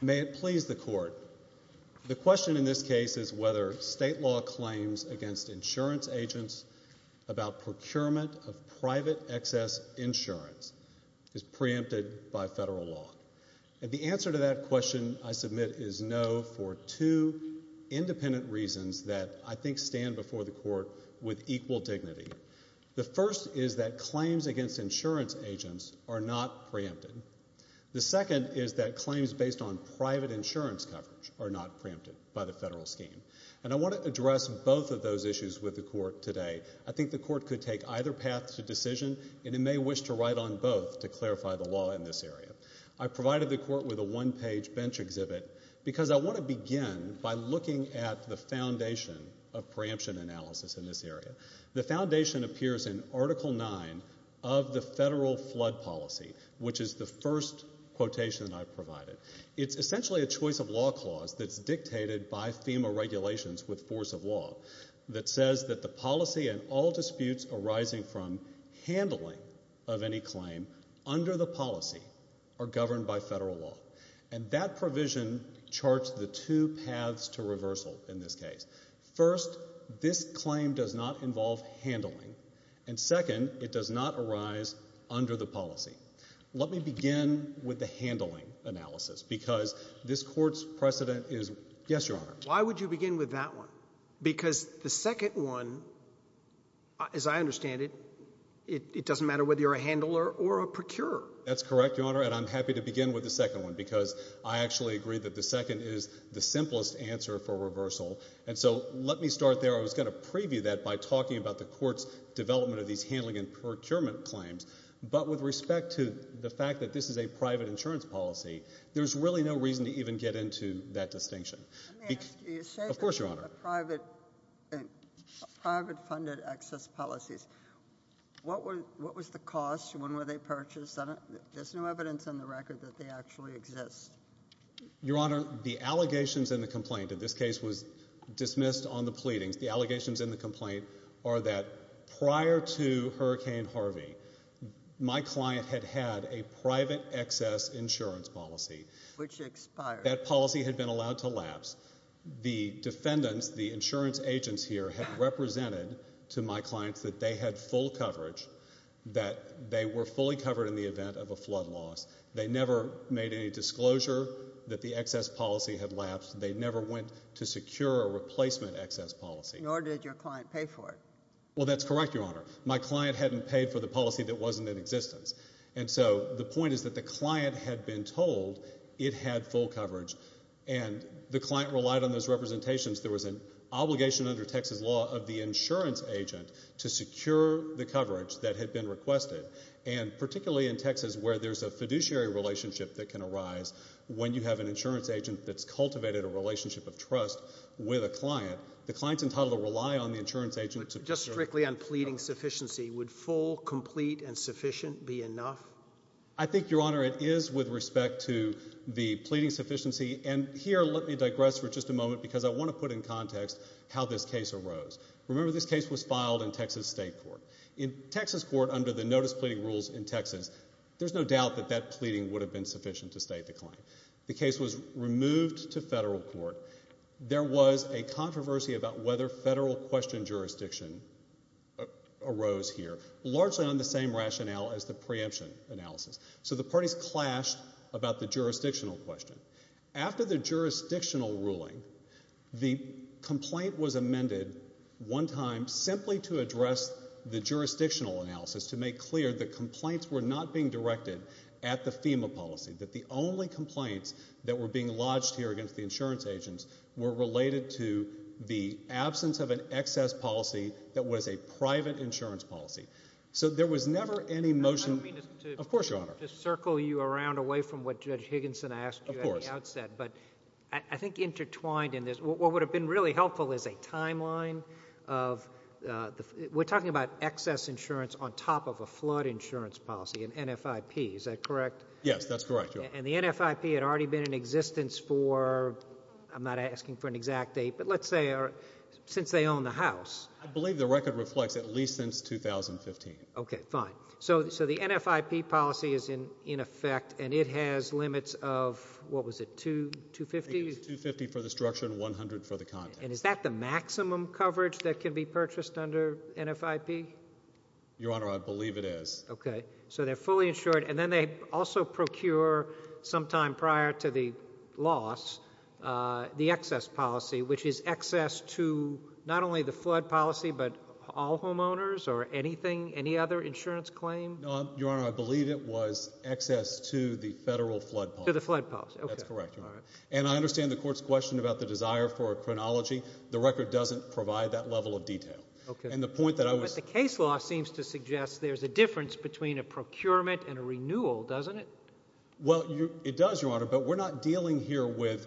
May it please the Court, the question in this case is whether state law claims against insurance agents about procurement of private excess insurance is preempted by federal law? The answer to that question I submit is no for two independent reasons that I think stand before the Court with equal dignity. The first is that claims against insurance agents are not preempted. The second is that claims based on private insurance coverage are not preempted by the federal scheme. And I want to address both of those issues with the Court today. I think the Court could take either path to decision and it may wish to write on both to clarify the law in this area. I provided the Court with a one-page bench exhibit because I want to begin by looking at the foundation of preemption analysis in this area. The foundation appears in Article 9 of the Federal Flood Policy, which is the first quotation I provided. It's essentially a choice of law clause that's dictated by FEMA regulations with force of law that says that the policy and all disputes arising from handling of any claim under the policy are governed by federal law. And that provision charts the two paths to reversal in this case. First, this claim does not involve handling. And second, it does not arise under the policy. Let me begin with the handling analysis, because this Court's precedent is... Yes, Your Honor. Why would you begin with that one? Because the second one, as I understand it, it doesn't matter whether you're a handler or a procurer. That's correct, Your Honor, and I'm happy to begin with the second one, because I actually agree that the second is the simplest answer for reversal. And so let me start there. I was going to preview that by talking about the Court's development of these handling and procurement claims, but with respect to the fact that this is a private insurance policy, there's really no reason to even get into that distinction. Let me ask you, you say that it's a private-funded excess policies. What was the cost? When were they purchased? There's no evidence on the record that they actually exist. Your Honor, the allegations in the complaint, and this case was dismissed on the pleadings, the allegations in the complaint are that prior to Hurricane Harvey, my client had had a private excess insurance policy. Which expired. That policy had been allowed to lapse. The defendants, the insurance agents here had represented to my clients that they had full coverage, that they were fully covered in the event of a flood loss. They never made any disclosure that the excess policy had been paid for. Nor did your client pay for it. Well, that's correct, Your Honor. My client hadn't paid for the policy that wasn't in existence. And so the point is that the client had been told it had full coverage, and the client relied on those representations. There was an obligation under Texas law of the insurance agent to secure the coverage that had been requested. And particularly in Texas where there's a fiduciary relationship that can arise when you have an insurance agent that's able to rely on the insurance agent to secure coverage. Just strictly on pleading sufficiency, would full, complete, and sufficient be enough? I think, Your Honor, it is with respect to the pleading sufficiency. And here let me digress for just a moment because I want to put in context how this case arose. Remember this case was filed in Texas state court. In Texas court under the notice pleading rules in Texas, there's no doubt that that pleading would have been sufficient to state the claim. The case was removed to federal court. There was a controversy about whether federal question jurisdiction arose here, largely on the same rationale as the preemption analysis. So the parties clashed about the jurisdictional question. After the jurisdictional ruling, the complaint was amended one time simply to address the jurisdictional analysis to make clear that the complaints that were being lodged here against the insurance agents were related to the absence of an excess policy that was a private insurance policy. So there was never any motion. I don't mean to circle you around away from what Judge Higginson asked you at the outset, but I think intertwined in this, what would have been really helpful is a timeline of the, we're talking about excess insurance on top of a flood insurance policy, an NFIP. Is that correct? Yes, that's correct. And the NFIP had already been in existence for, I'm not asking for an exact date, but let's say since they own the house. I believe the record reflects at least since 2015. Okay, fine. So the NFIP policy is in effect and it has limits of, what was it, 250? I think it's 250 for the structure and 100 for the content. And is that the maximum coverage that can be purchased under NFIP? Your Honor, I believe it is. Okay. So they're fully insured and then they also procure sometime prior to the loss, the excess policy, which is excess to not only the flood policy, but all homeowners or anything, any other insurance claim? Your Honor, I believe it was excess to the federal flood policy. To the flood policy. That's correct. And I understand the court's question about the desire for a chronology. The record doesn't provide that level of detail. And the point that I was... The case law seems to suggest there's a difference between a procurement and a renewal, doesn't it? Well, it does, Your Honor, but we're not dealing here with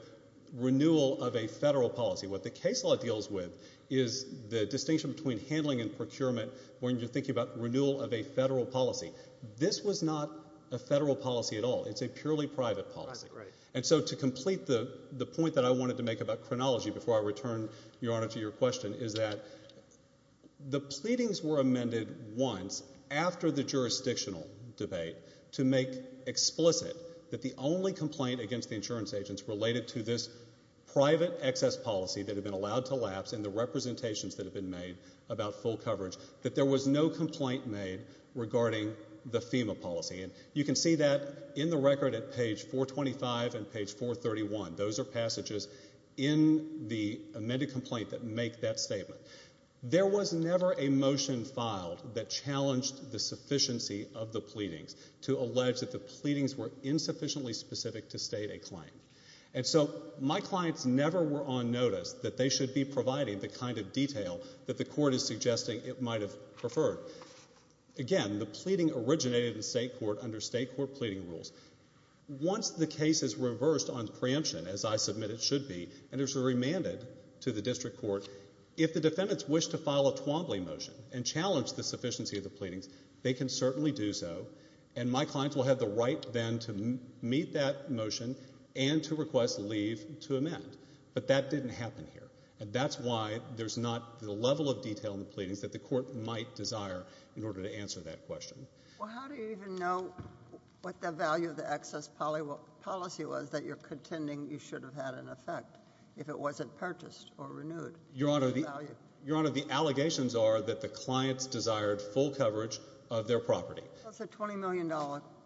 renewal of a federal policy. What the case law deals with is the distinction between handling and procurement when you're thinking about renewal of a federal policy. This was not a federal policy at all. It's a purely private policy. And so to complete the point that I wanted to make about chronology before I return, Your Honor, to your question, is that the pleadings were amended once after the jurisdictional debate to make explicit that the only complaint against the insurance agents related to this private excess policy that had been allowed to lapse and the representations that had been made about full coverage, that there was no complaint made regarding the FEMA policy. And you can see that in the record at page 425 and page 431. Those are passages in the amended complaint that make that statement. There was never a motion filed that challenged the sufficiency of the pleadings to allege that the pleadings were insufficiently specific to state a claim. And so my clients never were on notice that they should be providing the kind of detail that the court is suggesting it might have preferred. Again, the pleading originated in state court under state court pleading rules. Once the case is reversed on preemption, as I submit it should be, and it's remanded to the district court, if the defendants wish to file a Twombly motion and challenge the sufficiency of the pleadings, they can certainly do so. And my clients will have the right then to meet that motion and to request leave to amend. But that didn't happen here. And that's why there's not the level of detail in the pleadings that the court might desire in order to answer that question. Well, how do you even know what the value of the excess policy was that you're contending you should have had in effect if it wasn't purchased or renewed? Your Honor, the allegations are that the clients desired full coverage of their property. That's a $20 million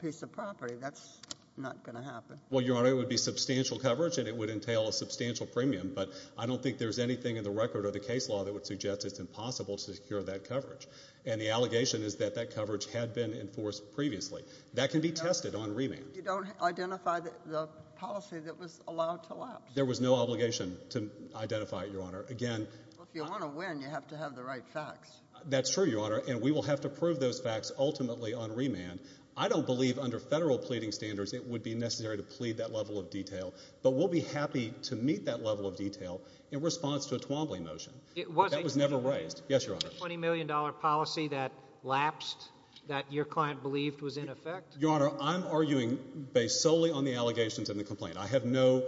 piece of property. That's not going to happen. Well, Your Honor, it would be substantial coverage and it would entail a substantial premium, but I don't think there's anything in the record or the case law that would suggest it's impossible to secure that coverage. And the allegation is that that coverage had been enforced previously. That can be tested on remand. You don't identify the policy that was allowed to lapse? There was no obligation to identify it, Your Honor. Again... Well, if you want to win, you have to have the right facts. That's true, Your Honor. And we will have to prove those facts ultimately on remand. I don't believe under federal pleading standards it would be necessary to plead that level of detail. But we'll be happy to meet that level of detail in response to a Twombly motion. It wasn't. That was never raised. Yes, Your Honor. A $20 million policy that lapsed, that your client believed was in effect? Your Honor, I'm arguing based solely on the allegations in the complaint. I have no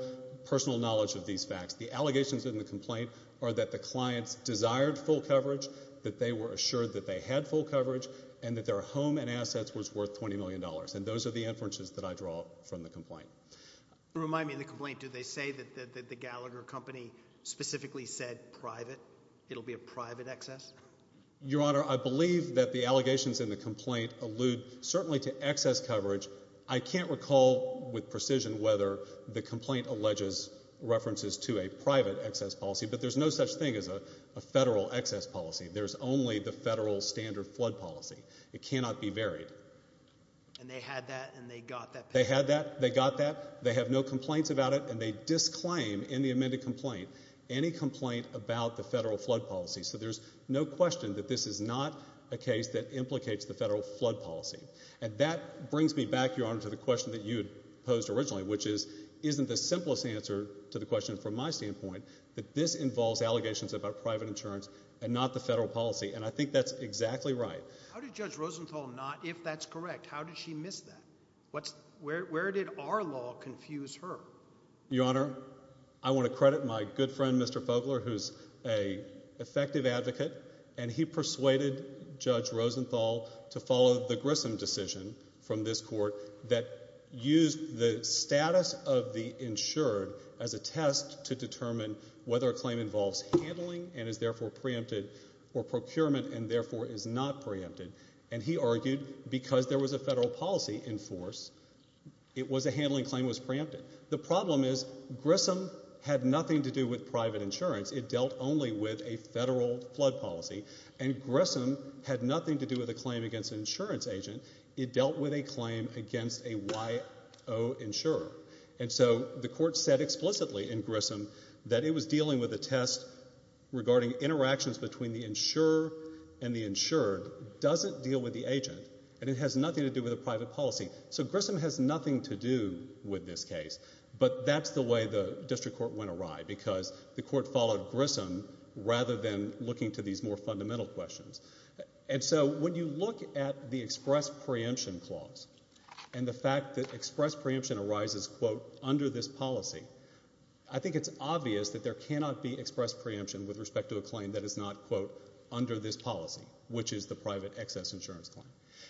personal knowledge of these facts. The allegations in the complaint are that the clients desired full coverage, that they were assured that they had full coverage, and that their home and assets was worth $20 million. And those are the inferences that I draw from the complaint. Remind me of the complaint. Do they say that the Gallagher company specifically said private? It'll be a private excess? Your Honor, I believe that the allegations in the complaint allude certainly to excess coverage. I can't recall with precision whether the complaint alleges references to a private excess policy. But there's no such thing as a federal excess policy. There's only the federal standard flood policy. It cannot be varied. And they had that and they got that? They had that. They got that. They have no complaints about it. And they disclaim in the amended complaint. Any complaint about the federal flood policy. So there's no question that this is not a case that implicates the federal flood policy. And that brings me back, Your Honor, to the question that you had posed originally, which is, isn't the simplest answer to the question from my standpoint that this involves allegations about private insurance and not the federal policy? And I think that's exactly right. How did Judge Rosenthal not, if that's correct, how did she miss that? Where did our law confuse her? Your Honor, I want to credit my good friend, Mr. Fogler, who's a effective advocate. And he persuaded Judge Rosenthal to follow the Grissom decision from this court that used the status of the insured as a test to determine whether a claim involves handling and is therefore preempted or procurement and therefore is not preempted. And he argued, because there was a federal policy in force, it was a handling claim was The problem is Grissom had nothing to do with private insurance. It dealt only with a federal flood policy. And Grissom had nothing to do with a claim against an insurance agent. It dealt with a claim against a YO insurer. And so the court said explicitly in Grissom that it was dealing with a test regarding interactions between the insurer and the insured doesn't deal with the agent and it has nothing to do with a private policy. So Grissom has nothing to do with this case, but that's the way the district court went awry because the court followed Grissom rather than looking to these more fundamental questions. And so when you look at the express preemption clause and the fact that express preemption arises, quote, under this policy, I think it's obvious that there cannot be express preemption with respect to a claim that is not, quote, under this policy, which is the private excess insurance claim.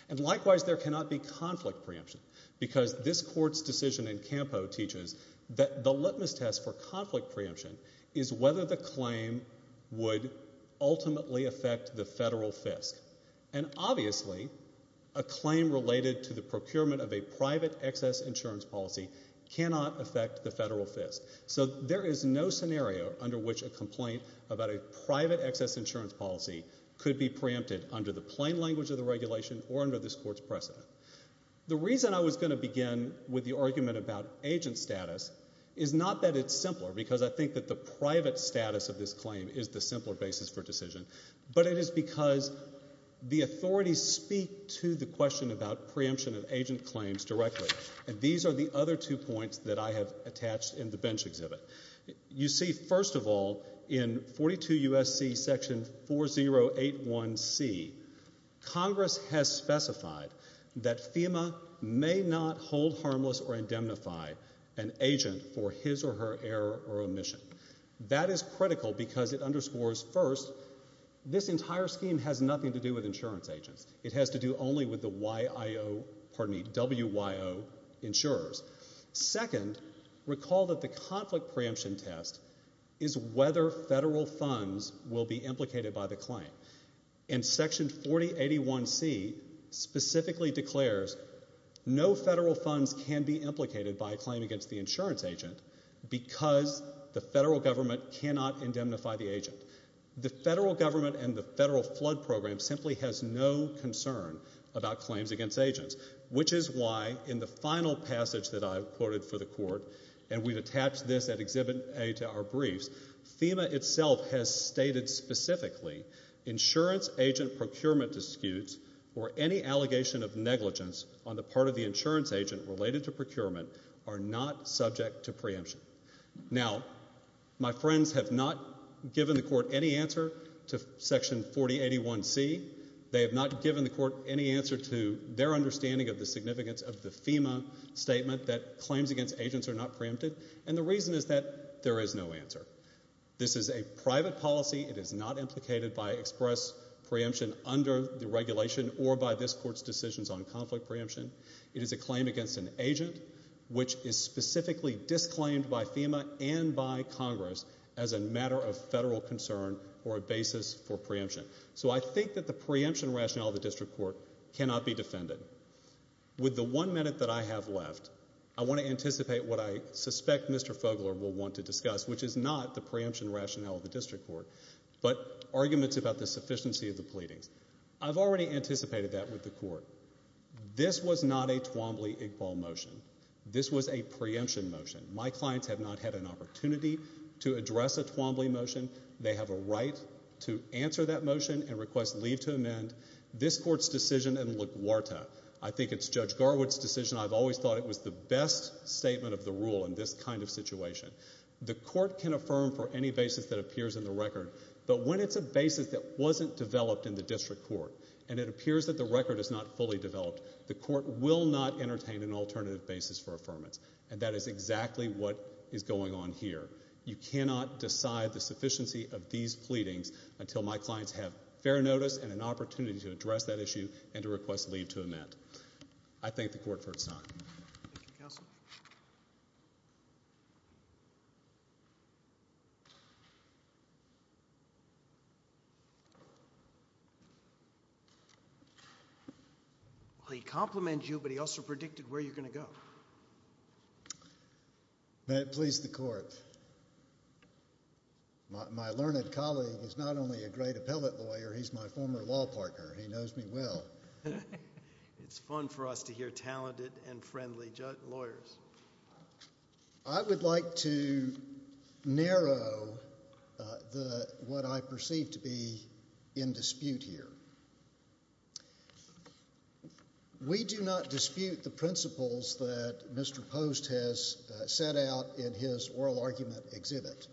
And likewise, there cannot be conflict preemption because this court's decision in Campo teaches that the litmus test for conflict preemption is whether the claim would ultimately affect the federal FISC. And obviously, a claim related to the procurement of a private excess insurance policy cannot affect the federal FISC. So there is no scenario under which a complaint about a private excess insurance policy could be preempted under the plain language of the regulation or under this court's precedent. The reason I was going to begin with the argument about agent status is not that it's simpler because I think that the private status of this claim is the simpler basis for decision, but it is because the authorities speak to the question about preemption of agent claims directly. And these are the other two points that I have attached in the bench exhibit. You see, first of all, in 42 U.S.C. section 4081C, Congress has specified that FEMA may not hold harmless or indemnify an agent for his or her error or omission. That is critical because it underscores, first, this entire scheme has nothing to do with insurance agents. It has to do only with the WIO insurers. Second, recall that the conflict preemption test is whether federal funds will be implicated by the claim. And section 4081C specifically declares no federal funds can be implicated by a claim against the insurance agent because the federal government cannot indemnify the agent. The federal government and the federal flood program simply has no concern about claims against agents, which is why in the final passage that I have quoted for the court, and we have attached this at exhibit A to our briefs, FEMA itself has stated specifically, insurance agent procurement disputes or any allegation of negligence on the part of the insurance agent related to procurement are not subject to preemption. Now my friends have not given the court any answer to section 4081C. They have not given the court any answer to their understanding of the significance of the FEMA statement that claims against agents are not preempted. And the reason is that there is no answer. This is a private policy. It is not implicated by express preemption under the regulation or by this court's decisions on conflict preemption. It is a claim against an agent, which is specifically disclaimed by FEMA and by Congress as a matter of federal concern or a basis for preemption. So I think that the preemption rationale of the district court cannot be defended. With the one minute that I have left, I want to anticipate what I suspect Mr. Fogler will want to discuss, which is not the preemption rationale of the district court, but arguments about the sufficiency of the pleadings. I've already anticipated that with the court. This was not a Twombly-Igbal motion. This was a preemption motion. My clients have not had an opportunity to address a Twombly motion. They have a right to answer that motion and request leave to amend. This court's decision in LaGuardia, I think it's Judge Garwood's decision, I've always thought it was the best statement of the rule in this kind of situation. The court can affirm for any basis that appears in the record, but when it's a basis that wasn't developed in the district court, and it appears that the record is not fully developed, the court will not entertain an alternative basis for affirmance. And that is exactly what is going on here. You cannot decide the sufficiency of these pleadings until my clients have fair notice and an opportunity to address that issue and to request leave to amend. I thank the court for its time. Thank you, counsel. Well, he complimented you, but he also predicted where you're going to go. May it please the court. My learned colleague is not only a great appellate lawyer, he's my former law partner. He knows me well. It's fun for us to hear talented and friendly lawyers. I would like to narrow what I perceive to be in dispute here. We do not dispute the principles that Mr. Post has set out in his oral argument exhibit.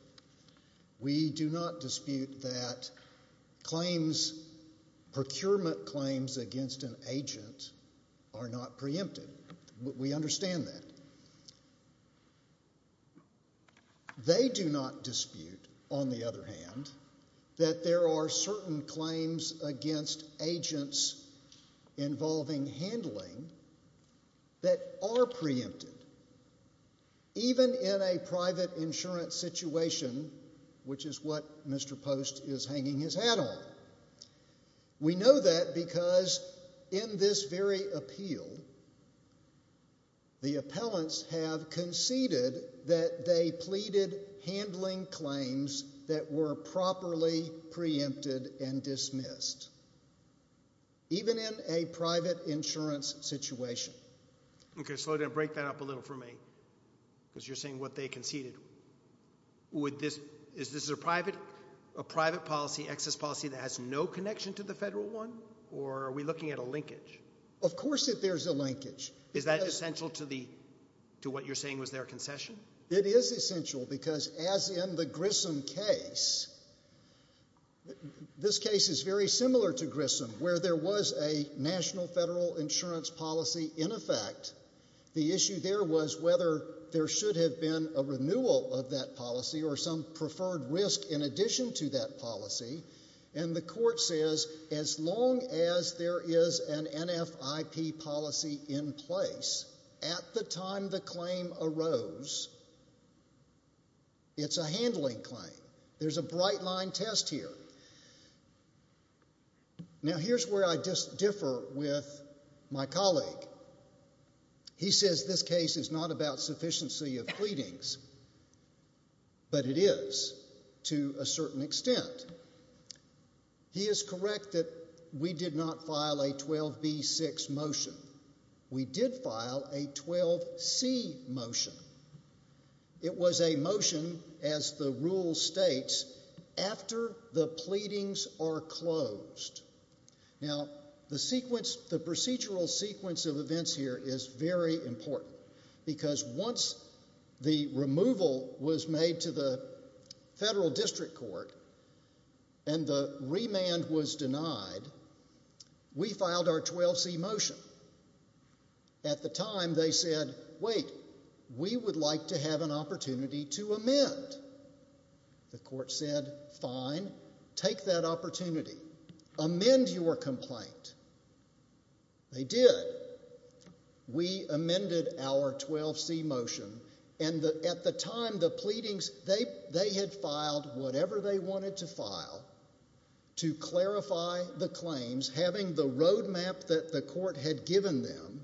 We do not dispute that claims, procurement claims against an agent are not preempted. We understand that. They do not dispute, on the other hand, that there are certain claims against agents involving handling that are preempted, even in a private insurance situation, which is what Mr. Post is hanging his hat on. We know that because, in this very appeal, the appellants have conceded that they pleaded handling claims that were properly preempted and dismissed, even in a private insurance situation. Okay, slow down. Break that up a little for me, because you're saying what they conceded. Is this a private policy, excess policy, that has no connection to the federal one? Or are we looking at a linkage? Of course that there's a linkage. Is that essential to what you're saying was their concession? It is essential because, as in the Grissom case, this case is very similar to Grissom, where there was a national federal insurance policy in effect. The issue there was whether there should have been a renewal of that policy or some preferred risk in addition to that policy, and the court says, as long as there is an NFIP policy in place, at the time the claim arose, it's a handling claim. There's a bright line test here. Now, here's where I just differ with my colleague. He says this case is not about sufficiency of pleadings, but it is to a certain extent. He is correct that we did not file a 12B6 motion. We did file a 12C motion. It was a motion, as the rule states, after the pleadings are closed. Now, the procedural sequence of events here is very important because once the removal was made to the federal district court and the remand was denied, we filed our 12C motion. At the time, they said, wait, we would like to have an opportunity to amend. The court said, fine, take that opportunity. Amend your complaint. They did. We amended our 12C motion, and at the time, the pleadings, they had filed whatever they wanted to file to clarify the claims, having the roadmap that the court had given them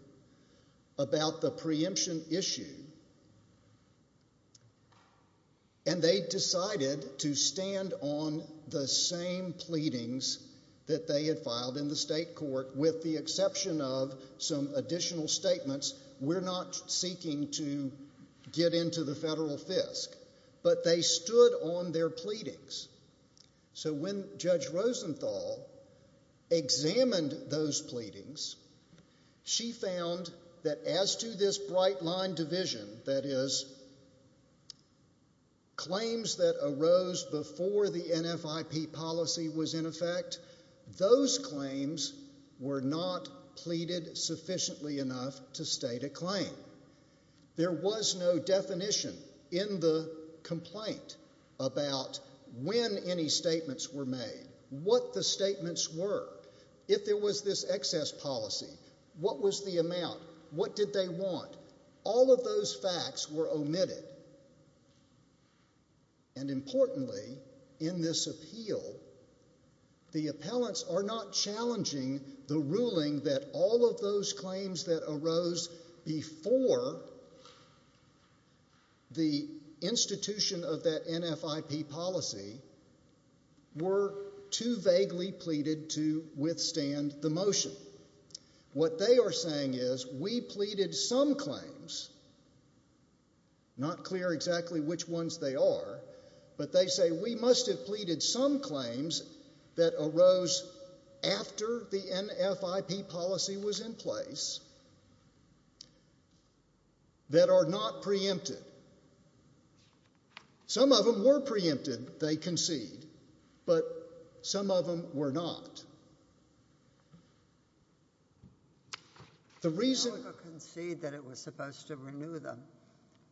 about the preemption issue. And they decided to stand on the same pleadings that they had filed in the state court with the exception of some additional statements. We're not seeking to get into the federal fisc. But they stood on their pleadings. So when Judge Rosenthal examined those pleadings, she found that as to this bright line division, that is, claims that arose before the NFIP policy was in effect, those claims were not pleaded sufficiently enough to state a claim. There was no definition in the complaint about when any statements were made, what the statements were, if there was this excess policy, what was the amount, what did they want. All of those facts were omitted. And importantly, in this appeal, the appellants are not challenging the ruling that all of those claims that arose before the institution of that NFIP policy were too vaguely pleaded to withstand the motion. What they are saying is, we pleaded some claims, not clear exactly which ones they are, but they say, we must have pleaded some claims that arose after the NFIP policy was in place, that are not preempted. Some of them were preempted, they concede, but some of them were not. The reason... They concede that it was supposed to renew them,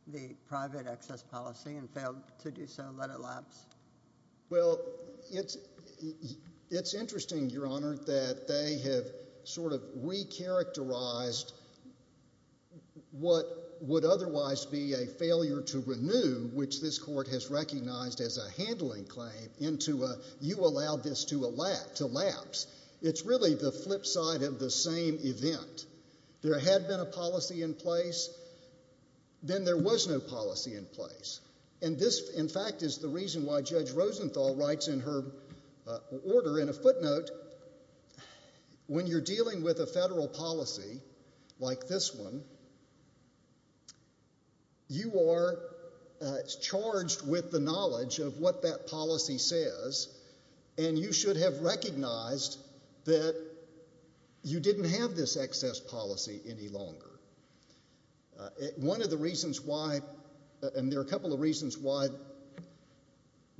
the private excess policy, and failed to do so and let it lapse. Well, it's interesting, Your Honor, that they have sort of re-characterized what would otherwise be a failure to renew, which this Court has recognized as a handling claim, into a, you allowed this to lapse. It's really the flip side of the same event. There had been a policy in place, then there was no policy in place. And this, in fact, is the reason why Judge Rosenthal writes in her order, in a footnote, when you're dealing with a federal policy, like this one, you are charged with the knowledge of what that policy says, and you should have recognized that you didn't have this excess policy any longer. One of the reasons why, and there are a couple of reasons why,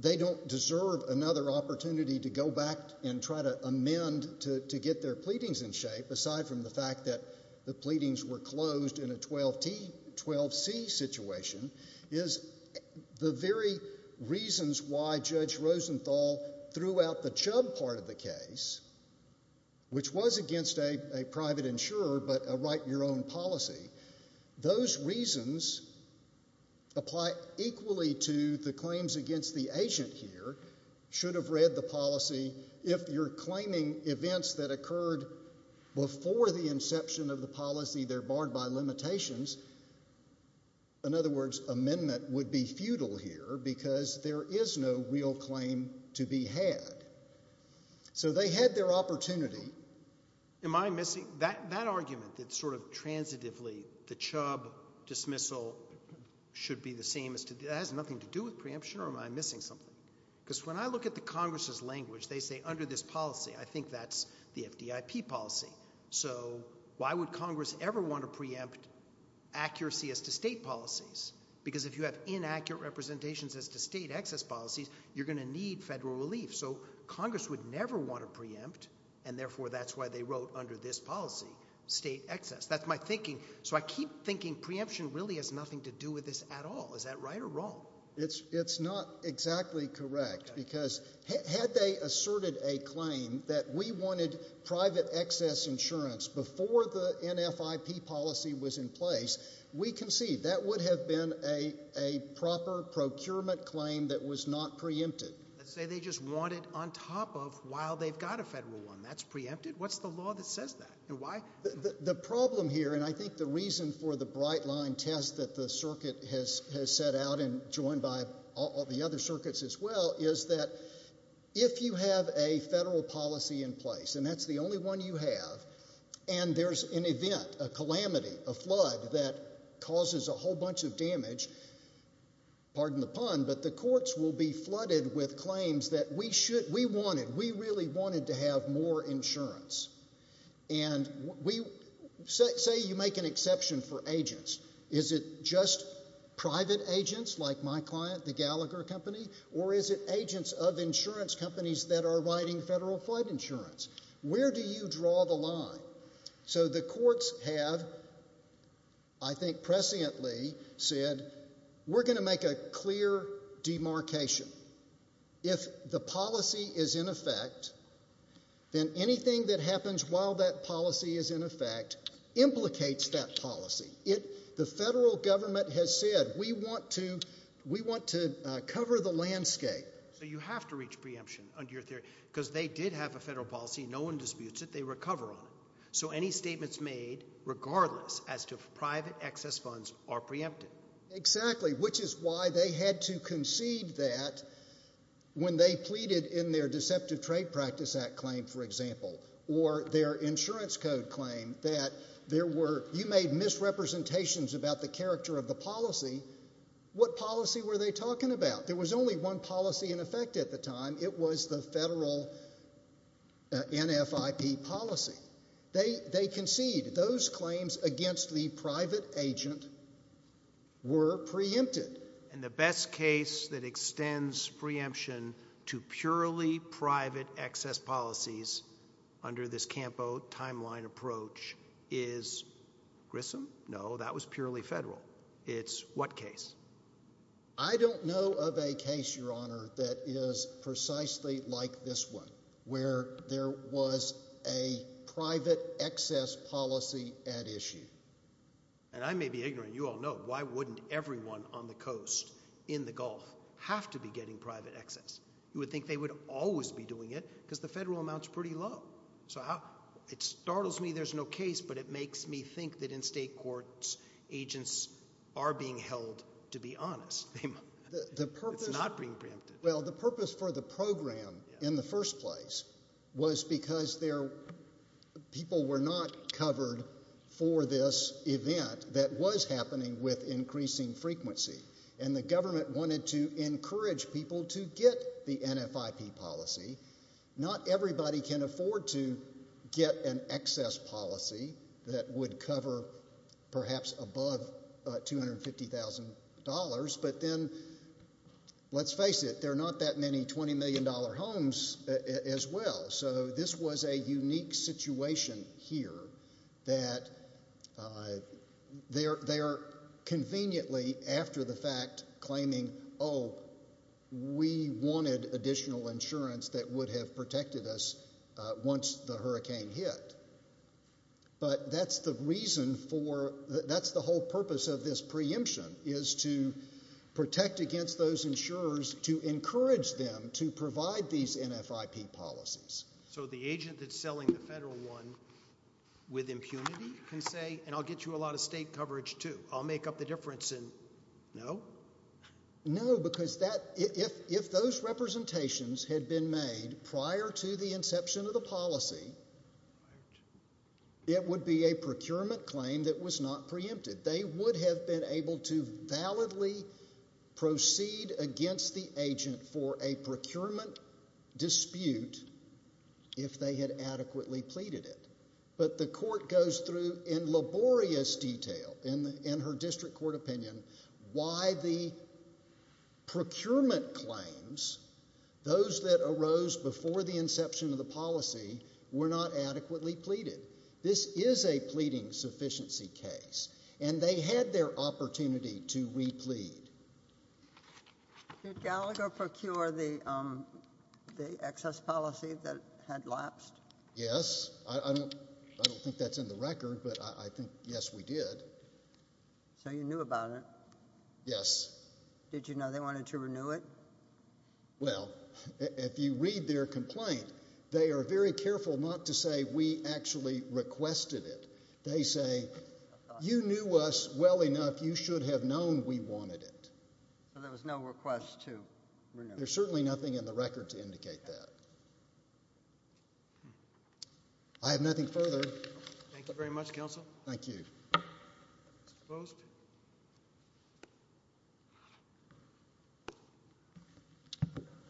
they don't deserve another opportunity to go back and try to amend to get their pleadings in shape, aside from the fact that the pleadings were closed in a 12C situation, is the very reasons why Judge Rosenthal threw out the Chubb part of the case, which was against a private insurer, but a write-your-own policy. Those reasons apply equally to the claims against the agent here, should have read the policy. If you're claiming events that occurred before the inception of the policy, they're barred by limitations. In other words, amendment would be futile here, because there is no real claim to be had. So they had their opportunity. Am I missing? That argument, that sort of transitively, the Chubb dismissal should be the same, has nothing to do with preemption, or am I missing something? Because when I look at the Congress's language, they say, under this policy, I think that's the FDIP policy. So why would Congress ever want to preempt accuracy as to state policies? Because if you have inaccurate representations as to state excess policies, you're going to need federal relief. So Congress would never want to preempt, and therefore that's why they wrote under this policy, state excess. That's my thinking. So I keep thinking preemption really has nothing to do with this at all. Is that right or wrong? It's not exactly correct, because had they asserted a claim that we wanted private excess insurance before the NFIP policy was in place, we can see that would have been a proper procurement claim that was not preempted. Let's say they just want it on top of while they've got a federal one. That's preempted? What's the law that says that? The problem here, and I think the reason for the bright line test that the circuit has set out and joined by all the other circuits as well, is that if you have a federal policy in place, and that's the only one you have, and there's an event, a calamity, a flood, that causes a whole bunch of damage, pardon the pun, but the courts will be flooded with claims that we wanted, we really wanted to have more insurance. Say you make an exception for agents. Is it just private agents like my client, the Gallagher Company, or is it agents of insurance companies that are writing federal flood insurance? Where do you draw the line? So the courts have, I think presciently, said, we're going to make a clear demarcation. If the policy is in effect, then anything that happens while that policy is in effect implicates that policy. The federal government has said, we want to cover the landscape. So you have to reach preemption under your theory, because they did have a federal policy, no one disputes it, they recover on it. So any statements made, regardless, as to private excess funds are preempted. Exactly, which is why they had to concede that when they pleaded in their Deceptive Trade Practice Act claim, for example, or their insurance code claim, that there were, you made misrepresentations about the character of the policy, what policy were they talking about? There was only one policy in effect at the time, it was the federal NFIP policy. They conceded. Those claims against the private agent were preempted. And the best case that extends preemption to purely private excess policies under this CAMPO timeline approach is Grissom? No, that was purely federal. It's what case? I don't know of a case, Your Honor, that is precisely like this one, where there was a private excess policy at issue. And I may be ignorant, you all know, why wouldn't everyone on the coast, in the Gulf, have to be getting private excess? You would think they would always be doing it, because the federal amount's pretty low. So it startles me there's no case, but it makes me think that in state courts, agents are being held to be honest. It's not being preempted. Well, the purpose for the program in the first place was because people were not covered for this event that was happening with increasing frequency. And the government wanted to encourage people to get the NFIP policy. Not everybody can afford to get an excess policy that would cover perhaps above $250,000. But then, let's face it, there are not that many $20 million homes as well. So this was a unique situation here that they are conveniently, after the fact, claiming, oh, we wanted additional insurance that would have protected us once the hurricane hit. But that's the reason for, that's the whole purpose of this preemption, is to protect against those insurers, to encourage them to provide these NFIP policies. So the agent that's selling the federal one with impunity can say, and I'll get you a lot of state coverage too, I'll make up the difference, and no? No, because if those representations had been made prior to the inception of the policy, it would be a procurement claim that was not preempted. They would have been able to validly proceed against the agent for a procurement dispute if they had adequately pleaded it. But the court goes through in laborious detail, in her district court opinion, why the procurement claims, those that arose before the inception of the policy, were not adequately pleaded. This is a pleading sufficiency case. And they had their opportunity to re-plead. Did Gallagher procure the excess policy that had lapsed? Yes. I don't think that's in the record, but I think, yes, we did. So you knew about it? Yes. Did you know they wanted to renew it? Well, if you read their complaint, they are very careful not to say we actually requested it. They say, you knew us well enough, you should have known we wanted it. So there was no request to renew it? There's certainly nothing in the record to indicate that. I have nothing further. Thank you very much, counsel. Thank you. Mr. Post?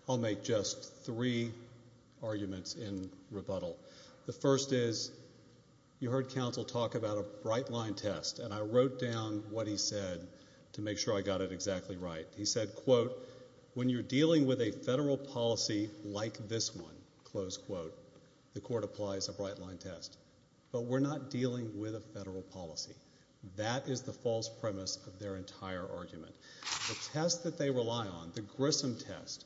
I'll make just three arguments in rebuttal. The first is, you heard counsel talk about a bright-line test, and I wrote down what he said to make sure I got it exactly right. He said, quote, when you're dealing with a federal policy like this one, close quote, the court applies a bright-line test. But we're not dealing with a federal policy. That is the false premise of their entire argument. The test that they rely on, the Grissom test,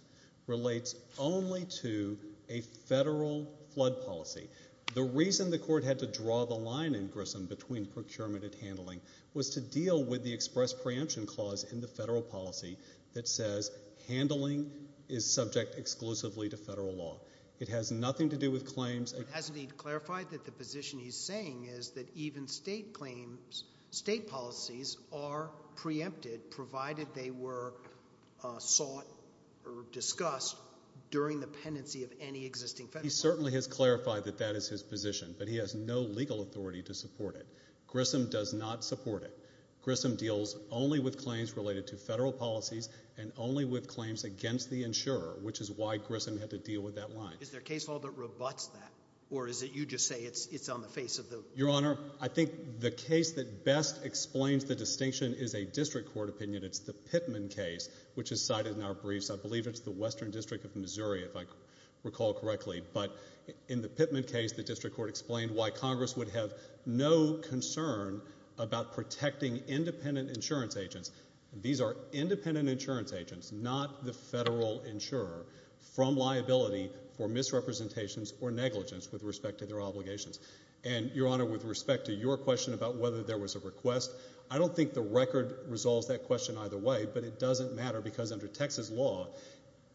relates only to a federal flood policy. The reason the court had to draw the line in Grissom between procurement and handling was to deal with the express preemption clause in the federal policy that says handling is subject exclusively to federal law. It has nothing to do with claims... Hasn't he clarified that the position he's saying is that even state claims, state policies, are preempted provided they were sought or discussed during the pendency of any existing federal policy? He certainly has clarified that that is his position, but he has no legal authority to support it. Grissom does not support it. Grissom deals only with claims related to federal policies and only with claims against the insurer, which is why Grissom had to deal with that line. Is there a case law that rebuts that, or is it you just say it's on the face of the... Your Honor, I think the case that best explains the distinction is a district court opinion. It's the Pittman case, which is cited in our briefs. I believe it's the Western District of Missouri, if I recall correctly. But in the Pittman case, the district court explained why Congress would have no concern about protecting independent insurance agents. These are independent insurance agents, not the federal insurer, from liability for misrepresentations or negligence with respect to their obligations. And, Your Honor, with respect to your question about whether there was a request, I don't think the record resolves that question either way, but it doesn't matter, because under Texas law,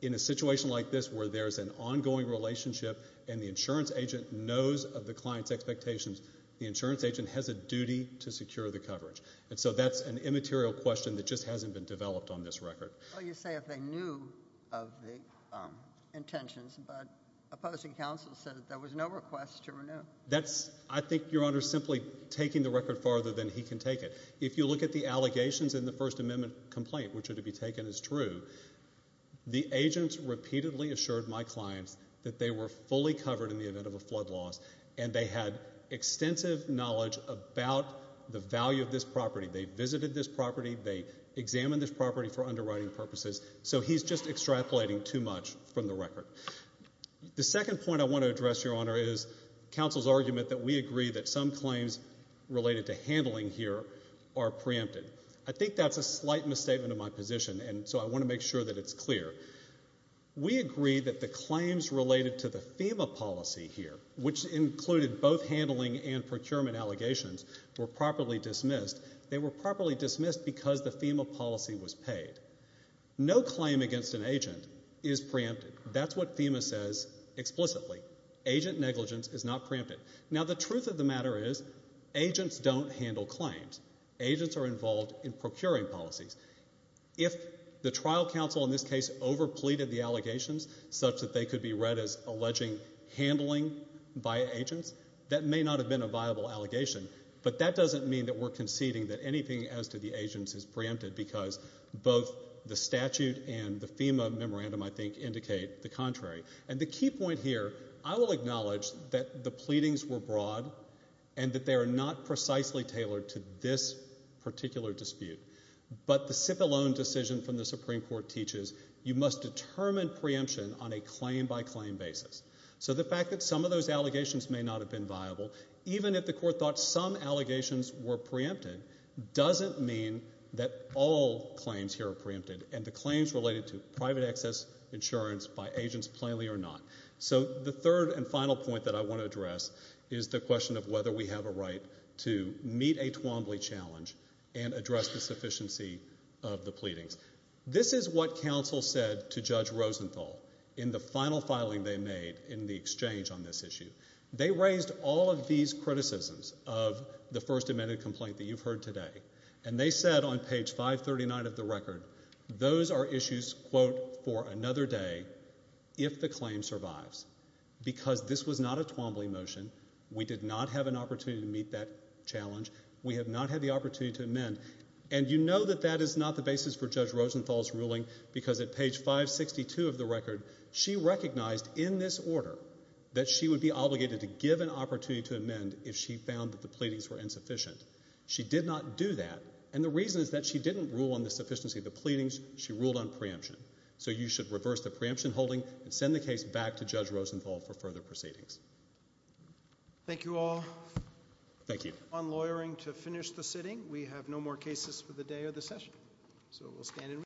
in a situation like this where there's an ongoing relationship and the insurance agent knows of the client's expectations, the insurance agent has a duty to secure the coverage. And so that's an immaterial question that just hasn't been developed on this record. Well, you say if they knew of the intentions, but opposing counsel said that there was no request to renew. That's... I think, Your Honor, simply taking the record farther than he can take it. If you look at the allegations in the First Amendment complaint, which are to be taken as true, the agents repeatedly assured my clients that they were fully covered in the event of a flood loss, and they had extensive knowledge about the value of this property. They visited this property. They examined this property for underwriting purposes. So he's just extrapolating too much from the record. The second point I want to address, Your Honor, is counsel's argument that we agree that some claims related to handling here are preempted. I think that's a slight misstatement of my position, and so I want to make sure that it's clear. We agree that the claims related to the FEMA policy here, which included both handling and procurement allegations, were properly dismissed. They were properly dismissed because the FEMA policy was paid. No claim against an agent is preempted. That's what FEMA says explicitly. Agent negligence is not preempted. Now, the truth of the matter is, agents don't handle claims. Agents are involved in procuring policies. If the trial counsel in this case overpleaded the allegations, such that they could be read as alleging handling by agents, that may not have been a viable allegation. But that doesn't mean that we're conceding that anything as to the agents is preempted, because both the statute and the FEMA memorandum, I think, indicate the contrary. And the key point here, I will acknowledge that the pleadings were broad, and that they are not precisely tailored to this particular dispute. But the Cipollone decision from the Supreme Court teaches you must determine preemption on a claim-by-claim basis. So the fact that some of those allegations may not have been viable, even if the court thought some allegations were preempted, doesn't mean that all claims here are preempted, and the claims related to private access insurance by agents plainly are not. So the third and final point that I want to address is the question of whether we have a right to meet a Twombly challenge and address the sufficiency of the pleadings. This is what counsel said to Judge Rosenthal in the final filing they made in the exchange on this issue. They raised all of these criticisms of the first amended complaint that you've heard today, and they said on page 539 of the record, those are issues, quote, for another day, if the claim survives. Because this was not a Twombly motion. We did not have an opportunity to meet that challenge. We have not had the opportunity to amend. And you know that that is not the basis for Judge Rosenthal's ruling, because at page 562 of the record, she recognized in this order that she would be obligated to give an opportunity to amend if she found that the pleadings were insufficient. She did not do that. And the reason is that she didn't rule on the sufficiency of the pleadings. She ruled on preemption. So you should reverse the preemption holding and send the case back to Judge Rosenthal for further proceedings. Thank you all. On lawyering to finish the sitting. We have no more cases for the day of the session.